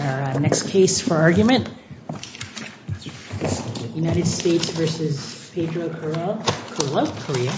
Our next case for argument is United States v. Pedro Carillo, Korea.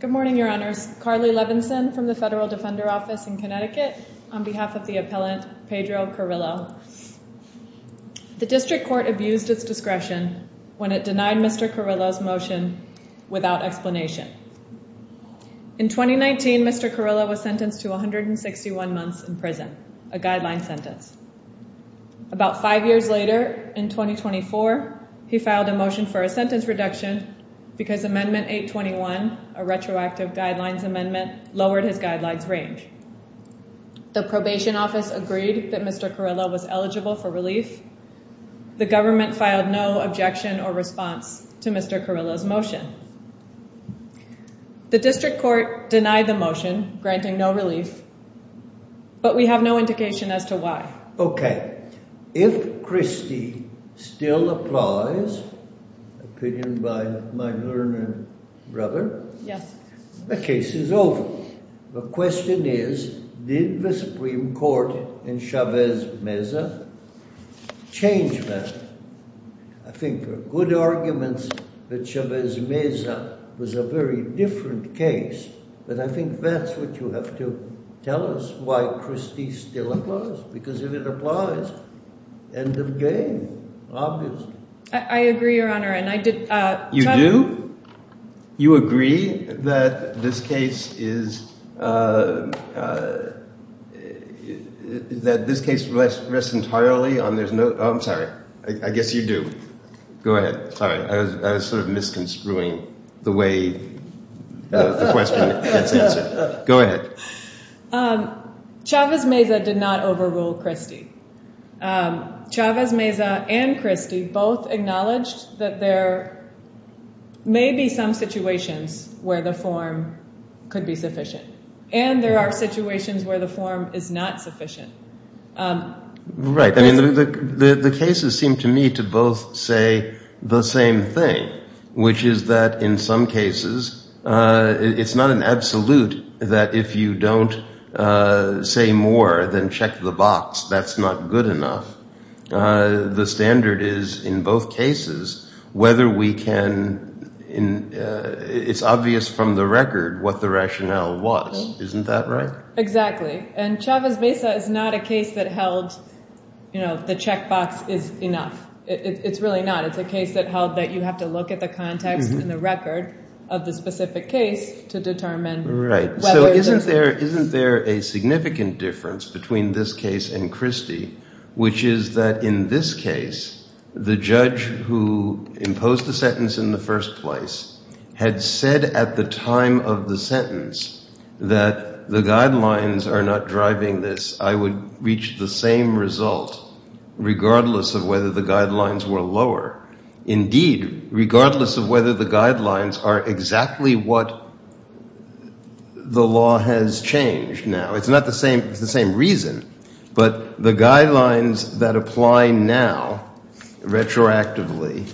Good morning, your honors. Carly Levinson from the Federal Defender Office in Connecticut on behalf of the appellant Pedro Carillo. The district court abused its discretion when it denied Mr. Carillo's motion without explanation. In 2019, Mr. Carillo was sentenced to 161 months in prison, a guideline sentence. About five years later, in 2024, he filed a motion for a sentence reduction because Amendment 821, a retroactive guidelines amendment, lowered his guidelines range. The probation office agreed that Mr. Carillo was eligible for relief. The government filed no objection or response to Mr. Carillo's motion. The district court denied the motion, granting no relief, but we have no indication as to why. Okay. If Christie still applies, opinion by my learned brother, the case is over. The question is, did the Supreme Court in Chavez-Meza change that? I think for good arguments that Chavez-Meza was a very different case, but I think that's what you have to tell us, why Christie still applies, because if it applies, end of game, obviously. I agree, your honor, and I did... You do? You agree that this case is, that this case rests entirely on... I'm sorry, I guess you do. Go ahead. Sorry, I was sort of misconstruing the way the question gets answered. Go ahead. Chavez-Meza did not overrule Christie. Chavez-Meza and Christie both acknowledged that there may be some situations where the form could be sufficient, and there are situations where the form is not sufficient. Right. I mean, the cases seem to me to both say the same thing, which is that in some cases, it's not an absolute that if you don't say more, then check the box. That's not good enough. The standard is in both cases, whether we can... It's obvious from the record what the rationale was. Isn't that right? Exactly, and Chavez-Meza is not a case that held the checkbox is enough. It's really not. It's a case that held that you have to look at the context and the record of the specific case to determine whether... Right, so isn't there a significant difference between this case and Christie, which is that in this case, the judge who imposed the sentence in the first place had said at the time of the sentence that the guidelines are not driving this. I would reach the same result regardless of whether the guidelines were lower. Indeed, regardless of whether the guidelines are exactly what the law has changed now. It's the same reason, but the guidelines that apply now retroactively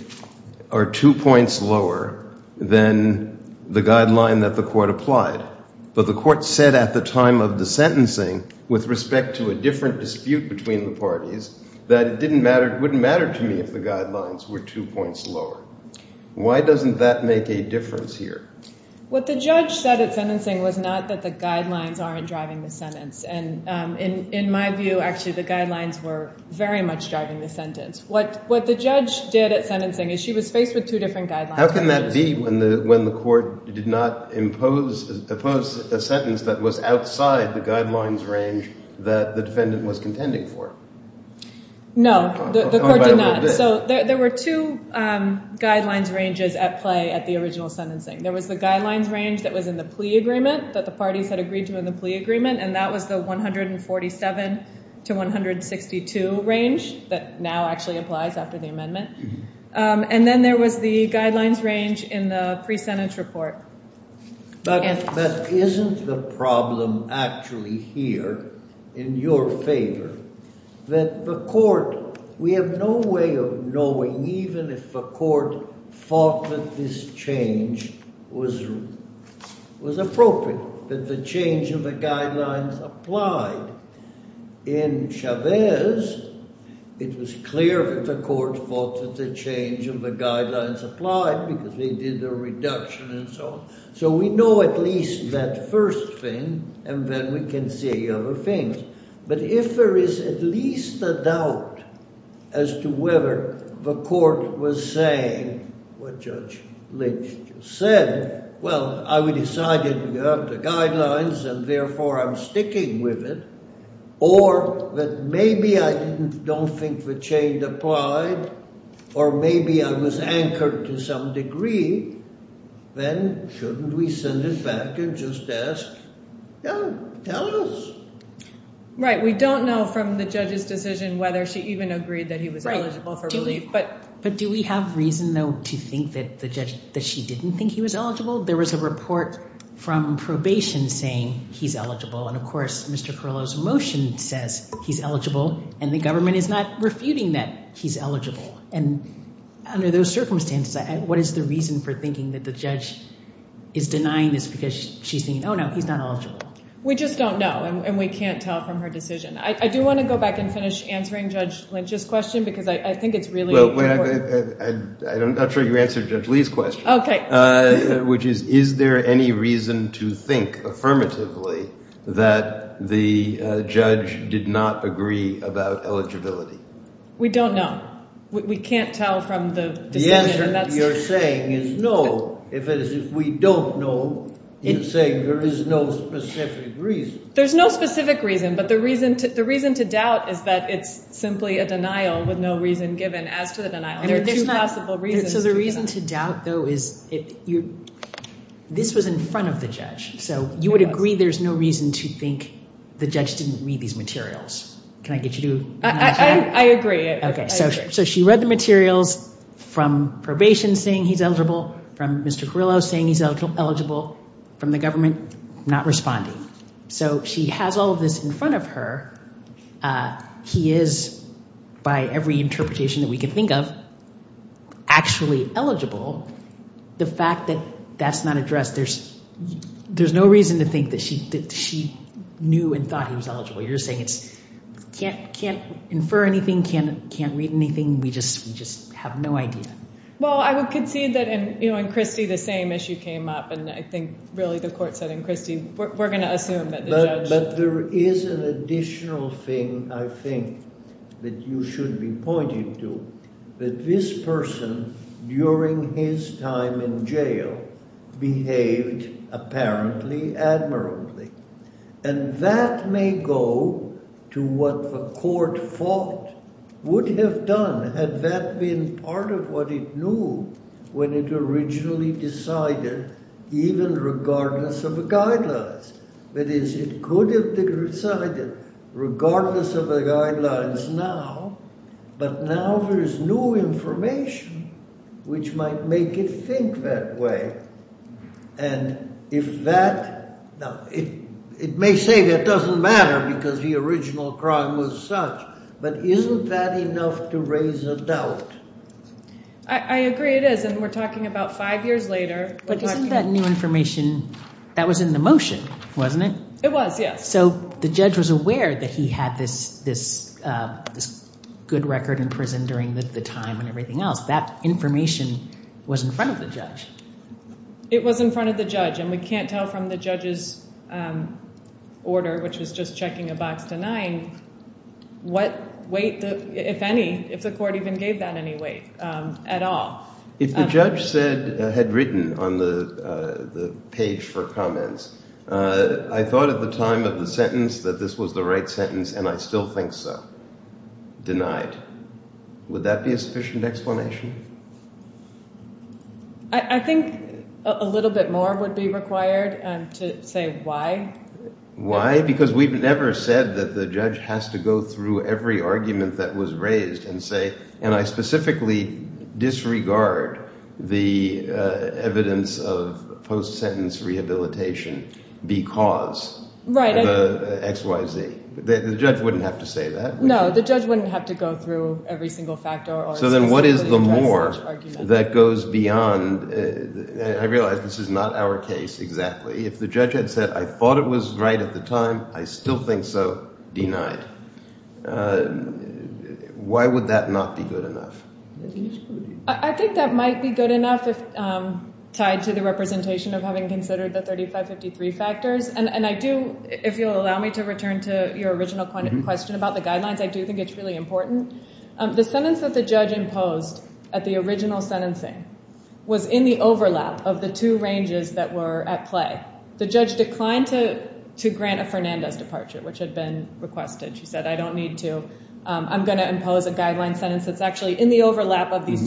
are two points lower than the guideline that the court applied. But the court said at the time of the sentencing with respect to a different dispute between the parties that it wouldn't matter to me if the guidelines were two points lower. Why doesn't that make a difference here? What the judge said at sentencing was not that the guidelines aren't driving the sentence. In my view, actually, the guidelines were very much driving the sentence. What the judge did at sentencing is she was faced with two different guidelines. How can that be when the court did not impose a sentence that was outside the guidelines range that the defendant was contending for? No, the court did not. So there were two guidelines ranges at play at the original sentencing. There was the guidelines range that was in the plea agreement that the parties had agreed to in the plea agreement, and that was the 147 to 162 range that now actually applies after the amendment. And then there was the guidelines range in the pre-sentence report. But isn't the problem actually here in your favor that the court, we have no way of knowing even if the court thought that this change was appropriate, that the change of the guidelines applied? In Chavez, it was clear that the court thought that the change of the guidelines applied because they did the reduction and so on. So we know at least that first thing and then we can see other things. But if there is at least a doubt as to whether the court was saying what Judge Lynch just said, well, I decided we have the guidelines and therefore I'm sticking with it. Or that maybe I don't think the change applied or maybe I was anchored to some degree, then shouldn't we send it back and just ask? Tell us. Right. We don't know from the judge's decision whether she even agreed that he was eligible for relief. But do we have reason though to think that she didn't think he was eligible? There was a report from probation saying he's eligible. And of course, Mr. Perlow's motion says he's eligible and the government is not refuting that he's eligible. And under those circumstances, what is the reason for thinking that the judge is denying this because she's saying, oh no, he's not eligible? We just don't know and we can't tell from her decision. I do want to go back and finish answering Judge Lynch's question because I think it's really important. I'm not sure you answered Judge Lee's question. Which is, is there any reason to think affirmatively that the judge did not agree about eligibility? We don't know. We can't tell from the answer you're saying is no. If we don't know, you're saying there is no specific reason. There's no specific reason, but the reason to doubt is that it's simply a denial with no reason given as to the denial. There are two possible reasons. So the reason to doubt though is this was in front of the judge. So you would agree there's no reason to think the judge didn't read these materials. Can I get you to? I agree. So she read the materials from probation saying he's eligible, from Mr. Carrillo saying he's eligible, from the government not responding. So she has all of this in front of her. He is, by every interpretation that we can think of, actually eligible. The fact that that's not addressed, there's no reason to think that she knew and thought he was eligible. You're saying it's can't infer anything, can't read anything. We just have no idea. Well, I would concede that in Christie the same issue came up. And I think really the court said in Christie, we're going to assume that the judge... But there is an additional thing I think that you should be pointing to, that this person during his time in jail behaved apparently admirably. And that may go to what the court thought would have done had that been part of what it knew when it originally decided, even regardless of the guidelines. That is, it could have decided regardless of the guidelines now, but now there's new information which might make it think that way. And if that... Now, it may say that doesn't matter because the original crime was such, but isn't that enough to raise a doubt? I agree it is, and we're talking about five years later. But isn't that new information, that was in the motion, wasn't it? It was, yes. So the judge was aware that he had this good record in prison during the time and everything else. That information was in front of the judge. It was in front of the judge, and we can't tell from the judge's checking a box to nine what weight, if any, if the court even gave that any weight at all. If the judge had written on the page for comments, I thought at the time of the sentence that this was the right sentence, and I still think so. Denied. Would that be a sufficient explanation? I think a little bit more would be required to say why. Why? Because we've never said that the judge has to go through every argument that was raised and say, and I specifically disregard the evidence of post-sentence rehabilitation because of X, Y, Z. The judge wouldn't have to say that. No, the judge wouldn't have to go through every single factor. So then what is the more that goes beyond, I realize this is not our case exactly. If the judge had said, I thought it was right at the time, I still think so. Denied. Why would that not be good enough? I think that might be good enough tied to the representation of having considered the 3553 factors. And I do, if you'll allow me to return to your original question about the guidelines, I do think it's really important. The sentence that the judge imposed at the original sentencing was in the overlap of the two ranges that were at play. The judge declined to grant a Fernandez departure, which had been requested. She said, I don't need to. I'm going to impose a guideline sentence that's actually in the overlap of these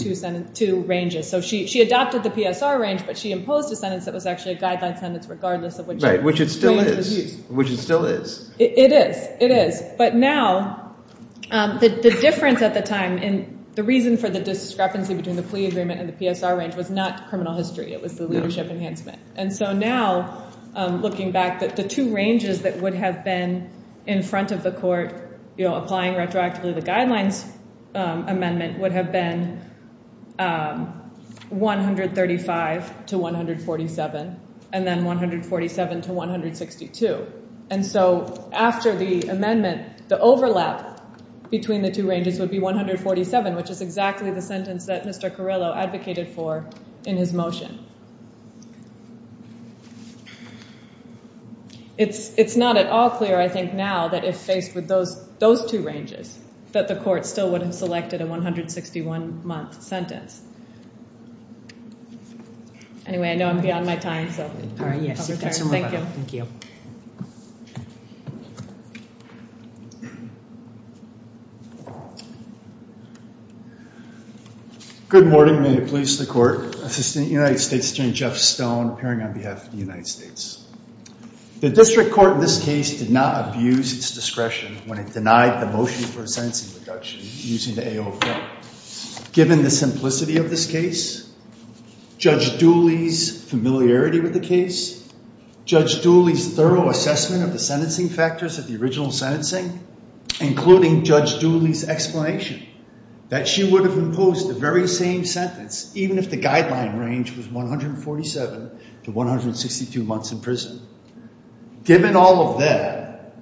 two ranges. So she adopted the PSR range, but she imposed a sentence that was actually a guideline sentence regardless of which it still is. It is. But now the difference at the time, the reason for the discrepancy between the plea agreement and the PSR range was not criminal history. It was the leadership enhancement. And so now looking back, the two ranges that would have been in front of the court applying retroactively the guidelines amendment would have been 135 to 147 and then 147 to 162. And so after the amendment, the overlap between the two ranges would be 147, which is exactly the sentence that Mr. Carrillo advocated for in his motion. It's not at all clear, I think, now that if faced with those two ranges that the court still would have selected a 161-month sentence. Anyway, I know I'm beyond my time. Good morning. May it please the court. Assistant United States Attorney Jeff Stone, appearing on behalf of the United States. The district court in this case did not abuse its discretion when it denied the motion for a sentencing reduction using the AO of Guent. Given the simplicity of this case, Judge Dooley's familiarity with the case, Judge Dooley's thorough assessment of the sentencing factors of the original sentencing, including Judge Dooley's explanation that she would have imposed the very same sentence even if the guideline range was 147 to 162 months in prison. Given all of that,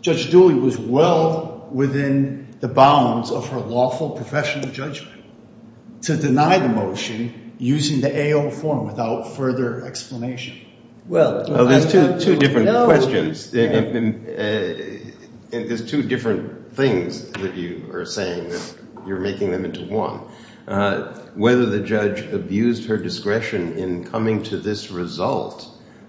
Judge Dooley was well within the bounds of her lawful professional judgment to deny the motion using the AO form without further explanation. Well, there's two different questions. There's two different things that you are saying that you're making them into one. Whether the judge abused her discretion in coming to this result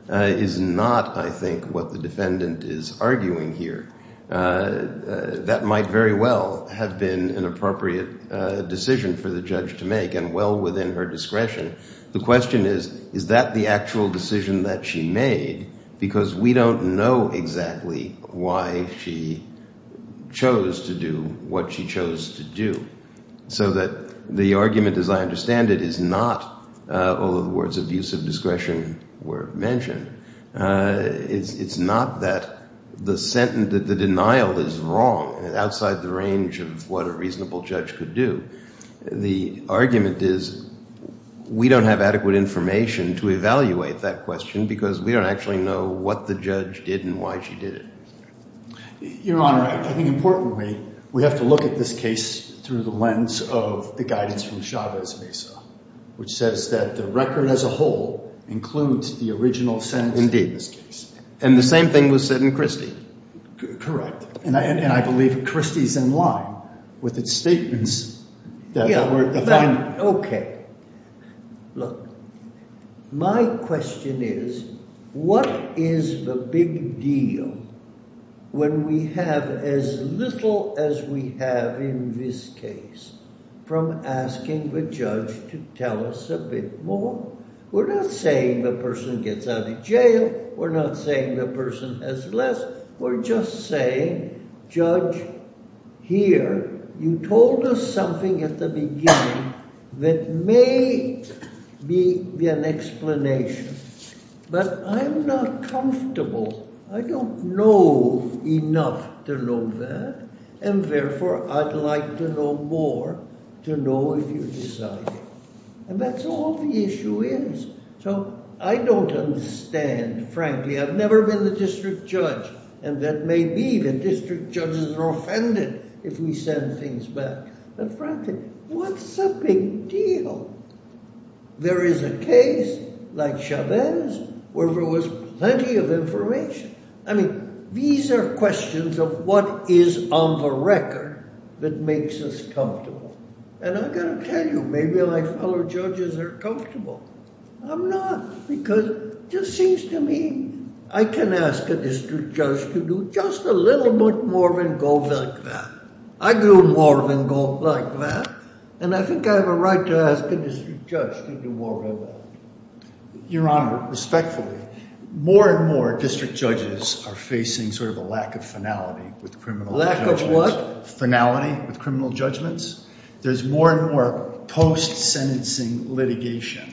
is not, I think, what the defendant is arguing here. That might very well have been an appropriate decision for the judge to make and well within her discretion. The question is, is that the actual decision that she made? Because we don't know exactly why she chose to do what she chose to do. So that the argument, as I understand it, is not, although the words abusive discretion were mentioned, it's not that the denial is wrong outside the range of what a reasonable judge could do. The argument is we don't have adequate information to evaluate that question because we don't actually know what the judge did and why she did it. Your Honor, I think importantly we have to look at this case through the lens of the guidance from Chavez Mesa, which says that the record as a whole includes the original sentence in this case. And the same thing was said in Christie. Correct. And I believe Christie's in line with its statements. Okay. Look, my question is, what is the big deal when we have as little as we have in this case from asking the judge to tell us a bit more? We're not saying the person gets out of jail. We're not saying the person has less. We're just saying, judge, here, you told us something at the beginning that may be an explanation. But I'm not comfortable. I don't know enough to know that. And therefore, I'd like to know more to know if you've decided. And that's all the issue is. So, I don't understand, frankly. I've never been the district judge, and that may be that district judges are offended if we send things back. But frankly, what's the big deal? There is a case like Chavez where there was plenty of information. I mean, these are questions of what is on the record that makes us comfortable. And I've got to tell you, maybe my fellow judges are comfortable. I'm not, because it just seems to me I can ask a district judge to do just a little bit more than go like that. I do more than go like that. And I think I have a right to ask a district judge to do more than that. Your Honor, respectfully, more and more district judges are facing sort of a lack of finality with criminal judgments. Lack of what? Finality with criminal judgments. There's more and more post-sentencing litigation.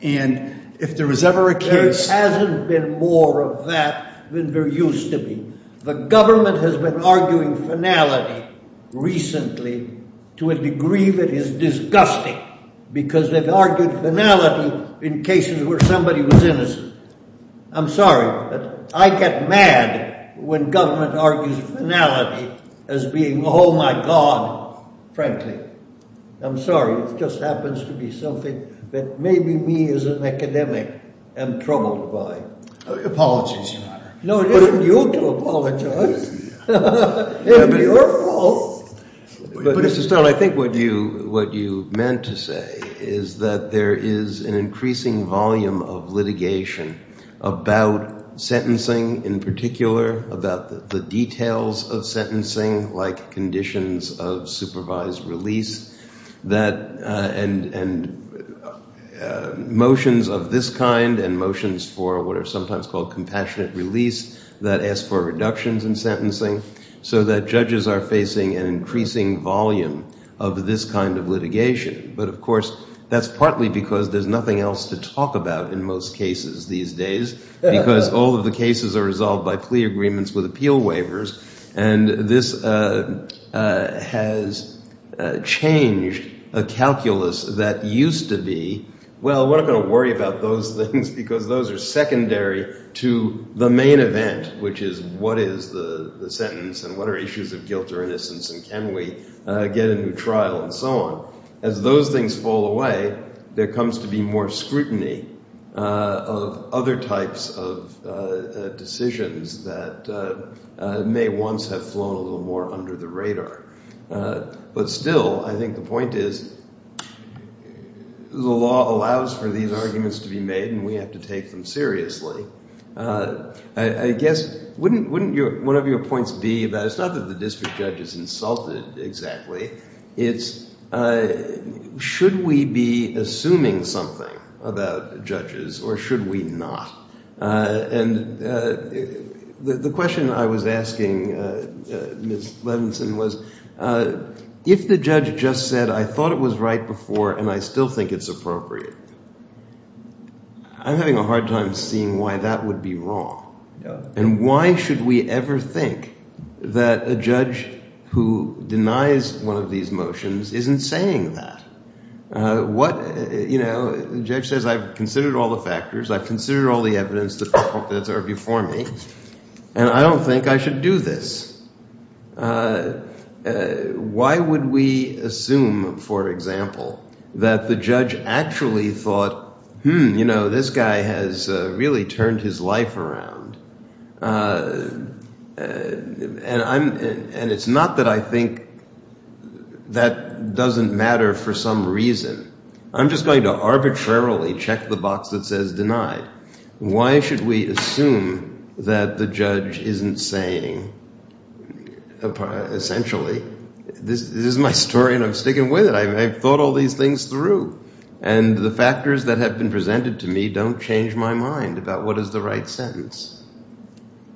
And if there was ever a case... There hasn't been more of that than there used to be. The government has been arguing finality recently to a degree that is disgusting because they've argued finality in cases where somebody was innocent. I'm sorry, but I get mad when government argues finality as being, oh my God, frankly. I'm sorry. It just happens to be something that maybe me as an academic am troubled by. Apologies, Your Honor. No, it isn't you to apologize. It's your fault. Mr. Stone, I think what you meant to say is that there is an increasing volume of litigation about sentencing in particular, about the details of sentencing, like conditions of supervised release and motions of this kind and motions for what are sometimes called compassionate release that ask for reductions in sentencing so that judges are facing an increasing volume of this kind of litigation. But, of course, that's partly because there's nothing else to talk about in most cases these days because all of the cases are resolved by plea agreements with appeal waivers. And this has changed a calculus that used to be, well, we're not going to worry about those things because those are secondary to the main event, which is what is the sentence and what are issues of guilt or innocence and can we get a new trial and so on. As those things fall away, there comes to be more scrutiny of other types of decisions that may once have flown a little more under the radar. But still, I think the point is the law allows for these arguments to be made and we have to take them seriously. I guess, whatever your points be, it's not that the district judge is insulted exactly. It's should we be assuming something about judges or should we not? And the question I was asking Ms. Levinson was, if the judge just said, I thought it was right before and I still think it's appropriate, I'm having a hard time seeing why that would be wrong. And why should we ever think that a judge who denies one of these motions isn't saying that? What, you know, the judge says I've considered all the factors, I've considered all the evidence that's before me, and I don't think I should do this. Why would we assume, for example, that the judge actually thought, hmm, you know, this guy has really turned his life around. And it's not that I think that doesn't matter for some reason. I'm just going to arbitrarily check the box that says denied. Why should we assume that the judge isn't saying, essentially, this is my story and I'm sticking with it. I've thought all these things through. And the factors that have been presented to me don't change my mind about what is the right sentence.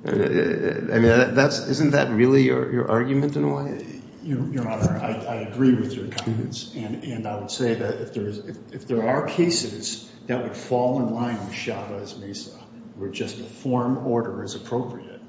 I mean, isn't that really your argument in a way? Your Honor, I agree with your comments. And I would say that if there are cases that would fall in line with Shabbat as Mesa, where just a form order is appropriate,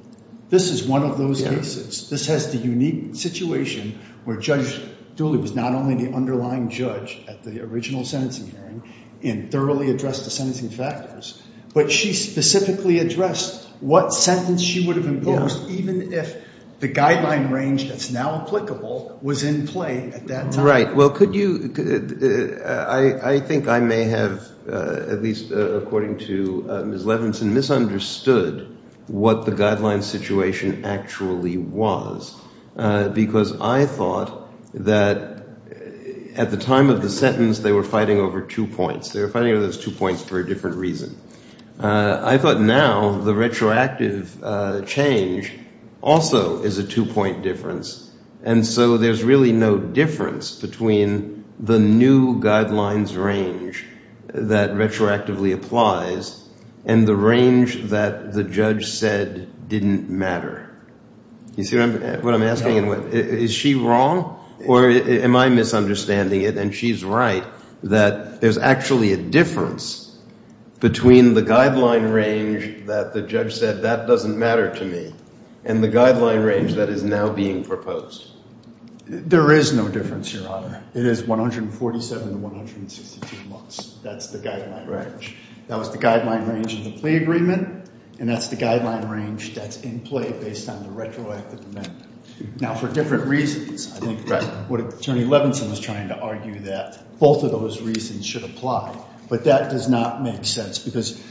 this is one of those cases. This has the unique situation where Judge Dooley was not only the underlying judge at the original sentencing hearing and thoroughly addressed the sentencing factors, but she specifically addressed what sentence she would have imposed, even if the guideline range that's now applicable was in play at that time. Right. Well, could you – I think I may have, at least according to Ms. Levinson, misunderstood what the guideline situation actually was because I thought that at the time of the sentence, they were fighting over two points. They were fighting over those two points for a different reason. I thought now the retroactive change also is a two-point difference. And so there's really no difference between the new guidelines range that retroactively applies and the range that the judge said didn't matter. You see what I'm asking? Is she wrong or am I misunderstanding it? And she's right that there's actually a difference between the guideline range that the judge said, that doesn't matter to me and the guideline range that is now being proposed. There is no difference, Your Honor. It is 147 to 162 months. That's the guideline range. That was the guideline range in the plea agreement, and that's the guideline range that's in play based on the retroactive amendment. Now, for different reasons, I think what Attorney Levinson was trying to argue that both of those reasons should apply, but that does not make sense because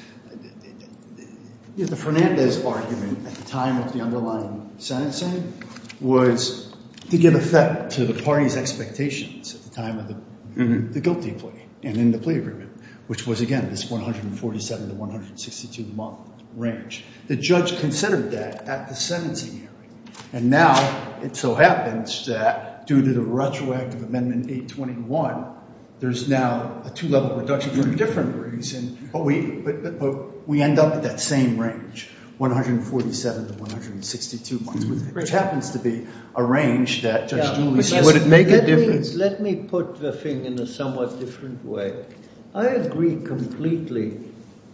the Fernandez argument at the time of the underlying sentencing was to give effect to the party's expectations at the time of the guilty plea and in the plea agreement, which was, again, this 147 to 162-month range. The judge considered that at the sentencing hearing, and now it so happens that due to the retroactive amendment 821, there's now a two-level reduction for a different reason, but we end up with that same range, 147 to 162 months, which happens to be a range that Judge Julie said would make a difference. Let me put the thing in a somewhat different way. I agree completely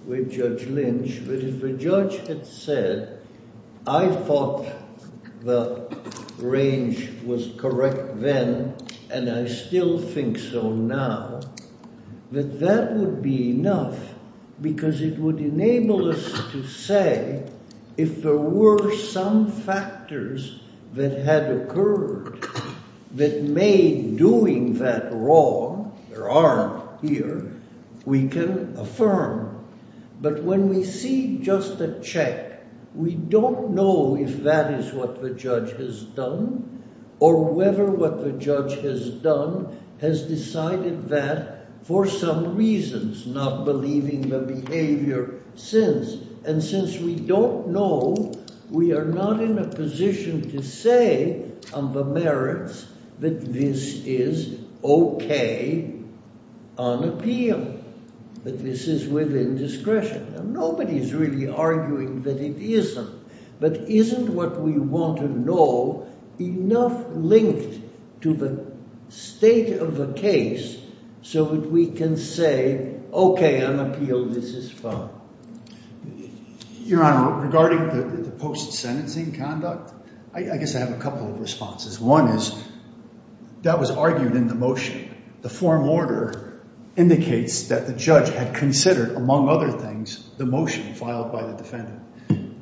with Judge Lynch that if the judge had said, I thought the range was correct then, and I still think so now, that that would be enough because it would enable us to say if there were some factors that had occurred that made doing that wrong, there aren't here, we can affirm. But when we see just a check, we don't know if that is what the judge has done or whether what the judge has done has decided that for some reasons, not believing the behavior since. And since we don't know, we are not in a position to say on the merits that this is okay on appeal, that this is within discretion. Nobody is really arguing that it isn't, but isn't what we want to know enough linked to the state of the case so that we can say, okay, on appeal, this is fine. Your Honor, regarding the post-sentencing conduct, I guess I have a couple of responses. One is that was argued in the motion. The form order indicates that the judge had considered, among other things, the motion filed by the defendant.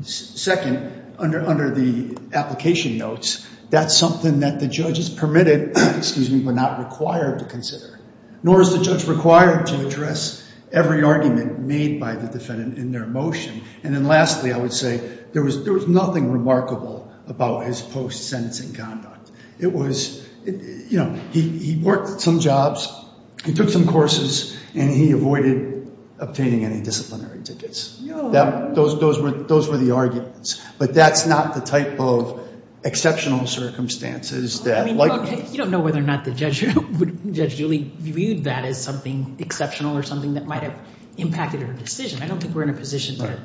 Second, under the application notes, that's something that the judge is permitted, excuse me, but not required to consider. Nor is the judge required to address every argument made by the defendant in their motion. And then lastly, I would say there was nothing remarkable about his post-sentencing conduct. It was, you know, he worked some jobs, he took some courses, and he avoided obtaining any disciplinary tickets. Those were the arguments. But that's not the type of exceptional circumstances that like this. You don't know whether or not the judge really viewed that as something exceptional or something that might have impacted her decision. I don't think we're in a position to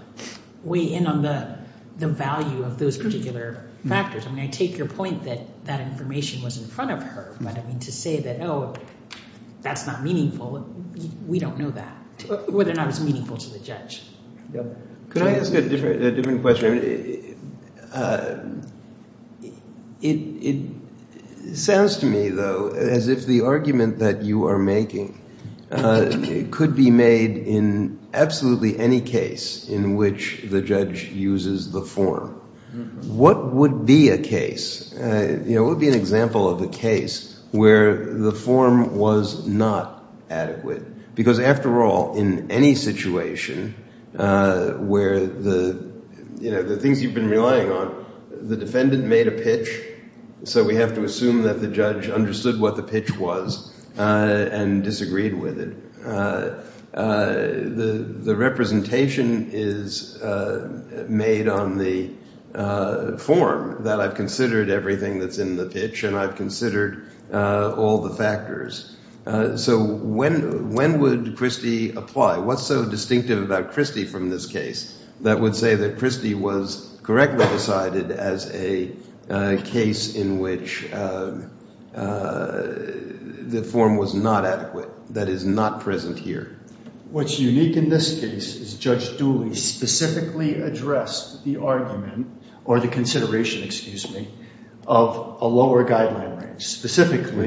weigh in on the value of those particular factors. I mean, I take your point that that information was in front of her. But, I mean, to say that, oh, that's not meaningful, we don't know that, whether or not it's meaningful to the judge. Can I ask a different question? It sounds to me, though, as if the argument that you are making could be made in absolutely any case in which the judge uses the form. What would be a case, you know, what would be an example of a case where the form was not adequate? Because, after all, in any situation where the, you know, the things you've been relying on, the defendant made a pitch, so we have to assume that the judge understood what the pitch was and disagreed with it. The representation is made on the form that I've considered everything that's in the pitch, and I've considered all the factors. So when would Christie apply? What's so distinctive about Christie from this case that would say that Christie was correctly decided as a case in which the form was not adequate, that is not present here? What's unique in this case is Judge Dooley specifically addressed the argument, or the consideration, excuse me, of a lower guideline range. Specifically,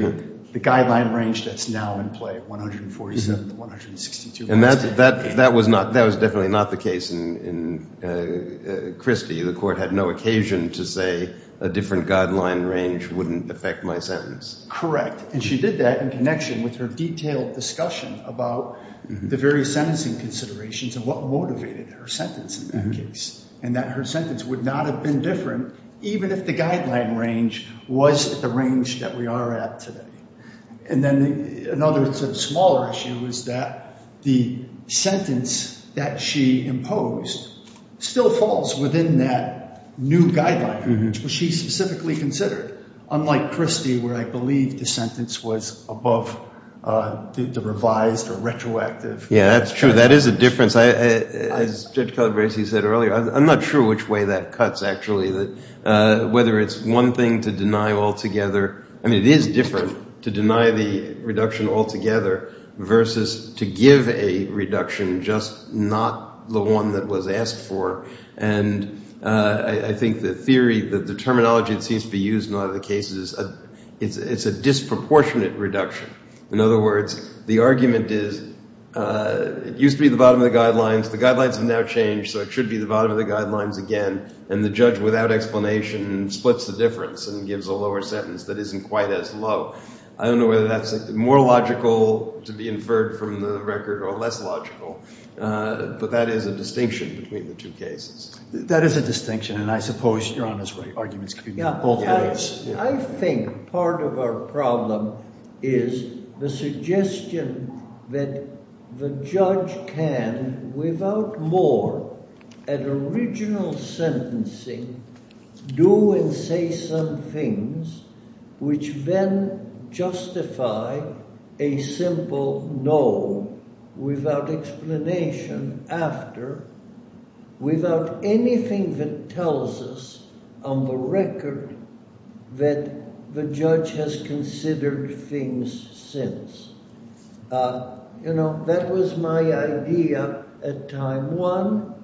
the guideline range that's now in play, 147 to 162. And that was definitely not the case in Christie. The court had no occasion to say a different guideline range wouldn't affect my sentence. Correct. And she did that in connection with her detailed discussion about the various sentencing considerations and what motivated her sentence in that case, and that her sentence would not have been different even if the guideline range was at the range that we are at today. And then another sort of smaller issue is that the sentence that she imposed still falls within that new guideline range, which she specifically considered, unlike Christie, where I believe the sentence was above the revised or retroactive. Yeah, that's true. That is a difference. As Judge Calabresi said earlier, I'm not sure which way that cuts, actually, whether it's one thing to deny altogether. I mean, it is different to deny the reduction altogether versus to give a reduction, just not the one that was asked for. And I think the theory, the terminology that seems to be used in a lot of the cases, it's a disproportionate reduction. In other words, the argument is it used to be the bottom of the guidelines. The guidelines have now changed, so it should be the bottom of the guidelines again. And the judge, without explanation, splits the difference and gives a lower sentence that isn't quite as low. I don't know whether that's more logical to be inferred from the record or less logical, but that is a distinction between the two cases. That is a distinction, and I suppose your honest arguments could be both ways. I think part of our problem is the suggestion that the judge can, without more, at original sentencing, do and say some things which then justify a simple no, without explanation after, without anything that tells us on the record that the judge has considered things since. You know, that was my idea at time one,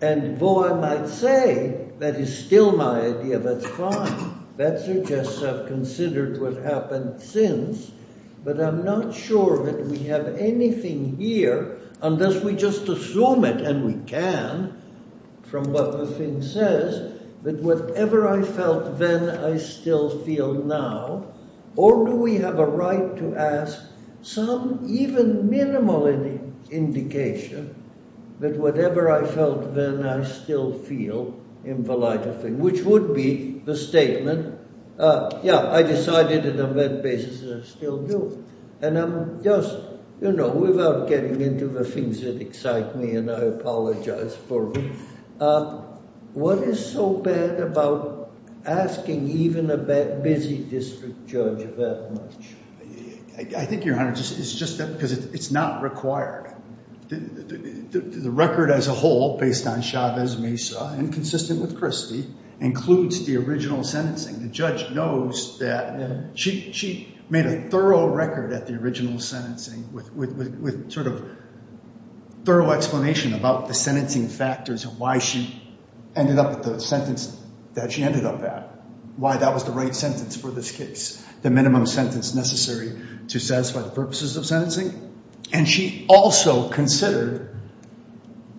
and though I might say that is still my idea, that's fine. That suggests I've considered what happened since, but I'm not sure that we have anything here unless we just assume it, and we can, from what the thing says, that whatever I felt then, I still feel now, or do we have a right to ask some even minimal indication that whatever I felt then, I still feel, which would be the statement, yeah, I decided it on that basis and I still do. And I'm just, you know, without getting into the things that excite me and I apologize for, what is so bad about asking even a busy district judge that much? I think, Your Honor, it's just that because it's not required. The record as a whole, based on Chavez-Mesa and consistent with Christie, includes the original sentencing. The judge knows that she made a thorough record at the original sentencing with sort of thorough explanation about the sentencing factors and why she ended up with the sentence that she ended up at, why that was the right sentence for this case, the minimum sentence necessary to satisfy the purposes of sentencing. And she also considered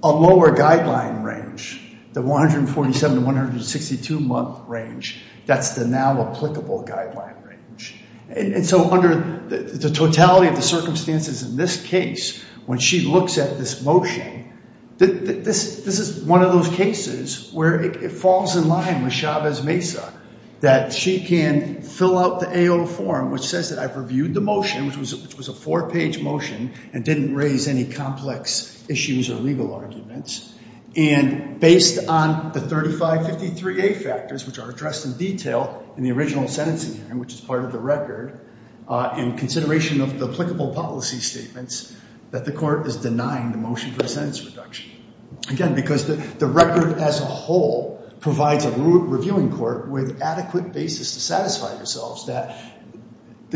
a lower guideline range, the 147 to 162 month range. That's the now applicable guideline range. And so under the totality of the circumstances in this case, when she looks at this motion, this is one of those cases where it falls in line with Chavez-Mesa that she can fill out the AO form, which says that I've reviewed the motion, which was a four-page motion and didn't raise any complex issues or legal arguments. And based on the 3553A factors, which are addressed in detail in the original sentencing hearing, which is part of the record, in consideration of the applicable policy statements, that the court is denying the motion for the sentence reduction. Again, because the record as a whole provides a reviewing court with adequate basis to satisfy themselves that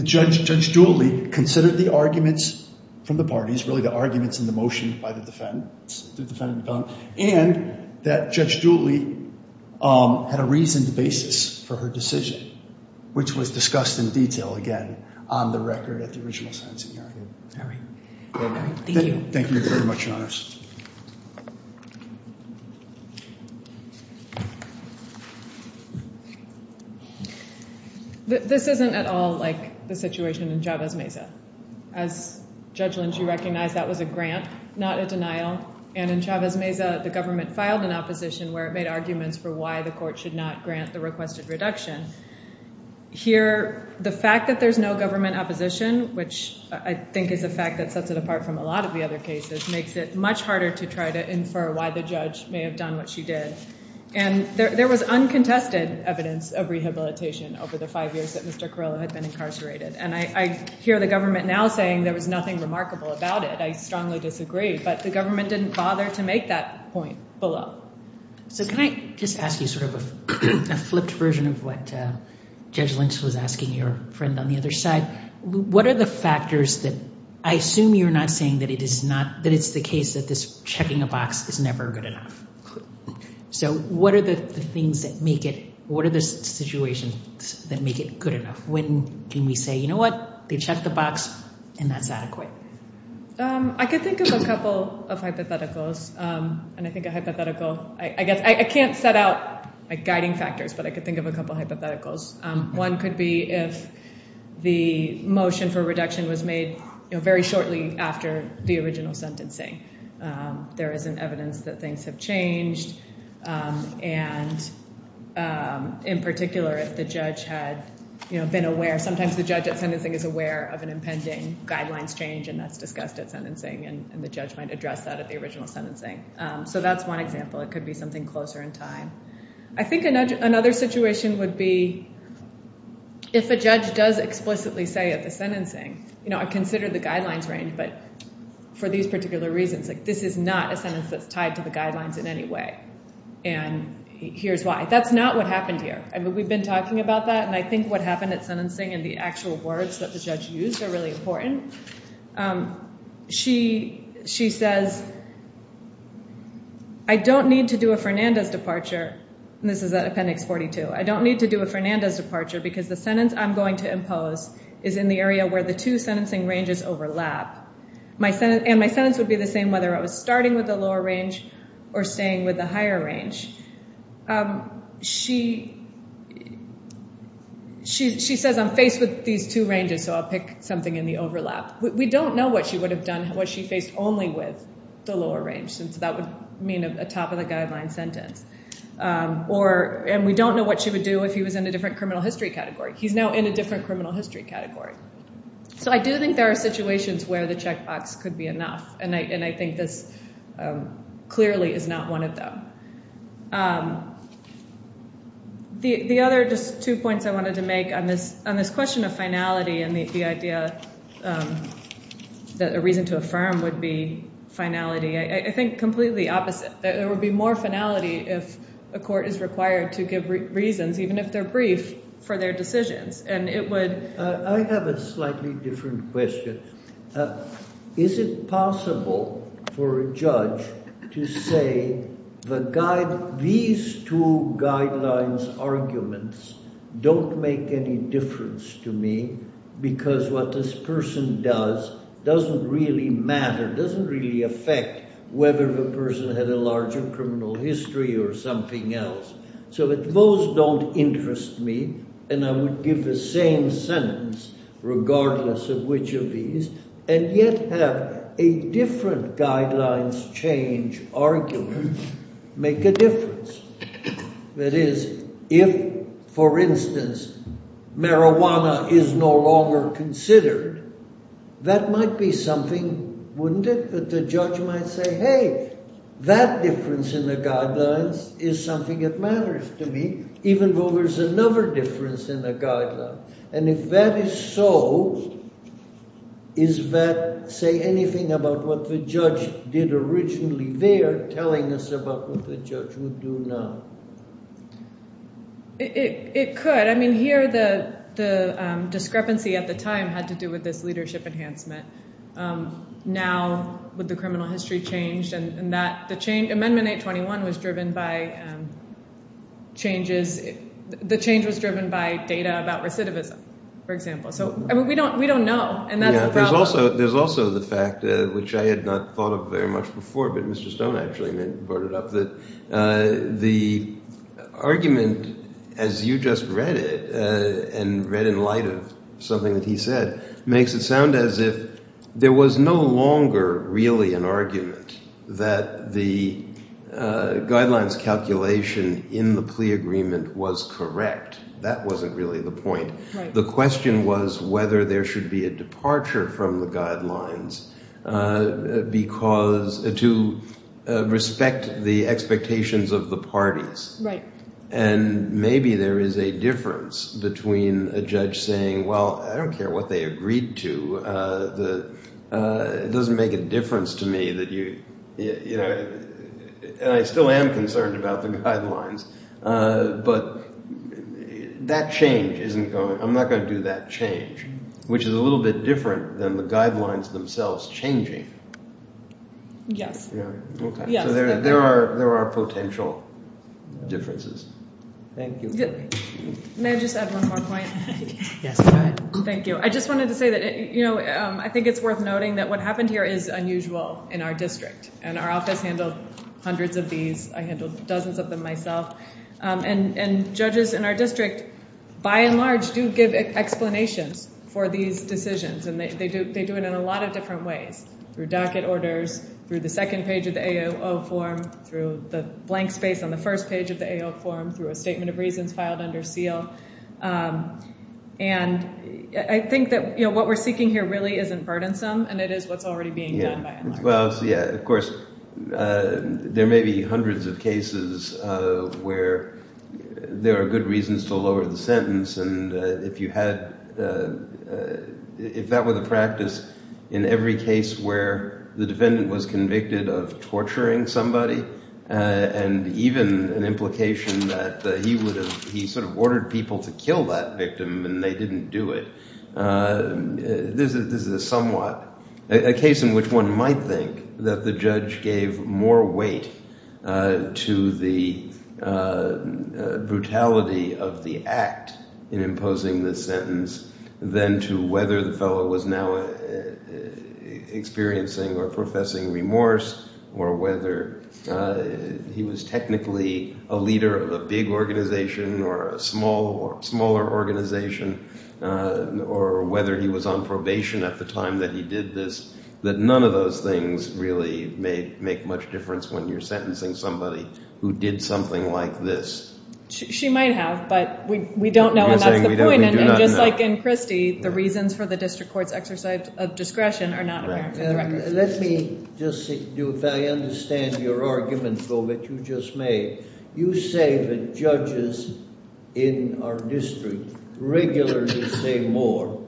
Judge Dooley considered the arguments from the parties, really the arguments in the motion by the defendant, and that Judge Dooley had a reasoned basis for her decision, which was discussed in detail, again, on the record at the original sentencing hearing. All right. Thank you. Thank you very much, Your Honor. This isn't at all like the situation in Chavez-Mesa. As Judge Lynch, you recognize that was a grant, not a denial. And in Chavez-Mesa, the government filed an opposition where it made arguments for why the court should not grant the requested reduction. Here, the fact that there's no government opposition, which I think is a fact that sets it apart from a lot of the other cases, makes it much harder to try to infer why the judge may have done what she did. And there was uncontested evidence of rehabilitation over the five years that Mr. Carrillo had been incarcerated. And I hear the government now saying there was nothing remarkable about it. I strongly disagree. But the government didn't bother to make that point below. So can I just ask you sort of a flipped version of what Judge Lynch was asking your friend on the other side? What are the factors that I assume you're not saying that it is not, that it's the case that this checking a box is never good enough? So what are the things that make it, what are the situations that make it good enough? When can we say, you know what, they checked the box, and that's adequate? I could think of a couple of hypotheticals. And I think a hypothetical, I guess I can't set out guiding factors, but I could think of a couple of hypotheticals. One could be if the motion for reduction was made very shortly after the original sentencing. There isn't evidence that things have changed. And in particular, if the judge had been aware, sometimes the judge at sentencing is aware of an impending guidelines change, and that's discussed at sentencing, and the judge might address that at the original sentencing. So that's one example. It could be something closer in time. I think another situation would be if a judge does explicitly say at the sentencing, you know, and here's why. That's not what happened here. I mean, we've been talking about that, and I think what happened at sentencing and the actual words that the judge used are really important. She says, I don't need to do a Fernandez departure, and this is at Appendix 42. I don't need to do a Fernandez departure because the sentence I'm going to impose is in the area where the two sentencing ranges overlap. And my sentence would be the same whether I was starting with the lower range or staying with the higher range. She says, I'm faced with these two ranges, so I'll pick something in the overlap. We don't know what she would have done, what she faced only with the lower range, since that would mean a top-of-the-guideline sentence. And we don't know what she would do if he was in a different criminal history category. He's now in a different criminal history category. So I do think there are situations where the checkbox could be enough, and I think this clearly is not one of them. The other just two points I wanted to make on this question of finality and the idea that a reason to affirm would be finality, I think completely opposite. There would be more finality if a court is required to give reasons, even if they're brief, for their decisions. I have a slightly different question. Is it possible for a judge to say these two guidelines arguments don't make any difference to me because what this person does doesn't really matter, doesn't really affect whether the person had a larger criminal history or something else? So that those don't interest me, and I would give the same sentence regardless of which of these, and yet have a different guidelines change argument make a difference. That is, if, for instance, marijuana is no longer considered, that might be something, wouldn't it? But the judge might say, hey, that difference in the guidelines is something that matters to me, even though there's another difference in the guidelines. And if that is so, is that say anything about what the judge did originally there telling us about what the judge would do now? It could. I mean, here the discrepancy at the time had to do with this leadership enhancement. Now, with the criminal history changed, and that the change, Amendment 821 was driven by changes, the change was driven by data about recidivism, for example. So, I mean, we don't know, and that's the problem. There's also the fact, which I had not thought of very much before, but Mr. Stone actually brought it up, that the argument, as you just read it, and read in light of something that he said, makes it sound as if there was no longer really an argument that the guidelines calculation in the plea agreement was correct. That wasn't really the point. The question was whether there should be a departure from the guidelines because – to respect the expectations of the parties. And maybe there is a difference between a judge saying, well, I don't care what they agreed to. It doesn't make a difference to me that you – and I still am concerned about the guidelines. But that change isn't going – I'm not going to do that change, which is a little bit different than the guidelines themselves changing. Yes. Okay. So there are potential differences. Thank you. May I just add one more point? Yes, go ahead. Thank you. I just wanted to say that I think it's worth noting that what happened here is unusual in our district, and our office handled hundreds of these. I handled dozens of them myself. And judges in our district, by and large, do give explanations for these decisions, and they do it in a lot of different ways, through docket orders, through the second page of the AOO form, through the blank space on the first page of the AOO form, through a statement of reasons filed under seal. And I think that what we're seeking here really isn't burdensome, and it is what's already being done by and large. Yeah, of course, there may be hundreds of cases where there are good reasons to lower the sentence, and if you had – if that were the practice in every case where the defendant was convicted of torturing somebody and even an implication that he would have – he sort of ordered people to kill that victim and they didn't do it, this is a somewhat – a case in which one might think that the judge gave more weight to the brutality of the act in imposing this sentence than to whether the fellow was now experiencing or professing remorse or whether he was technically a leader of a big organization or a smaller organization or whether he was on probation at the time that he did this, that none of those things really make much difference when you're sentencing somebody who did something like this. She might have, but we don't know, and that's the point. And just like in Christie, the reasons for the district court's exercise of discretion are not american for the record. Let me just – I understand your argument, though, that you just made. You say that judges in our district regularly say more.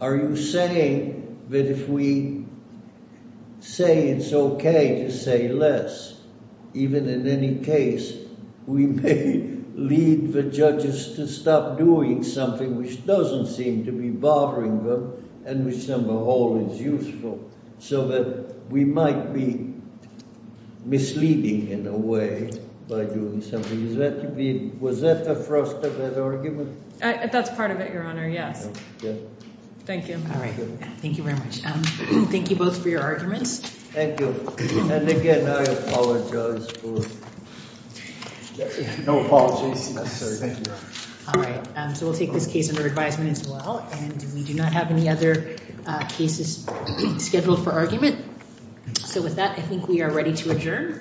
Are you saying that if we say it's okay to say less, even in any case, we may lead the judges to stop doing something which doesn't seem to be bothering them and which, as a whole, is useful so that we might be misleading in a way by doing something? Is that to be – was that the thrust of that argument? That's part of it, Your Honor, yes. Thank you. All right. Thank you very much. Thank you both for your arguments. Thank you. And again, I apologize for – No apologies necessary. Thank you. All right. So we'll take this case under advisement as well, and we do not have any other cases scheduled for argument. So with that, I think we are ready to adjourn.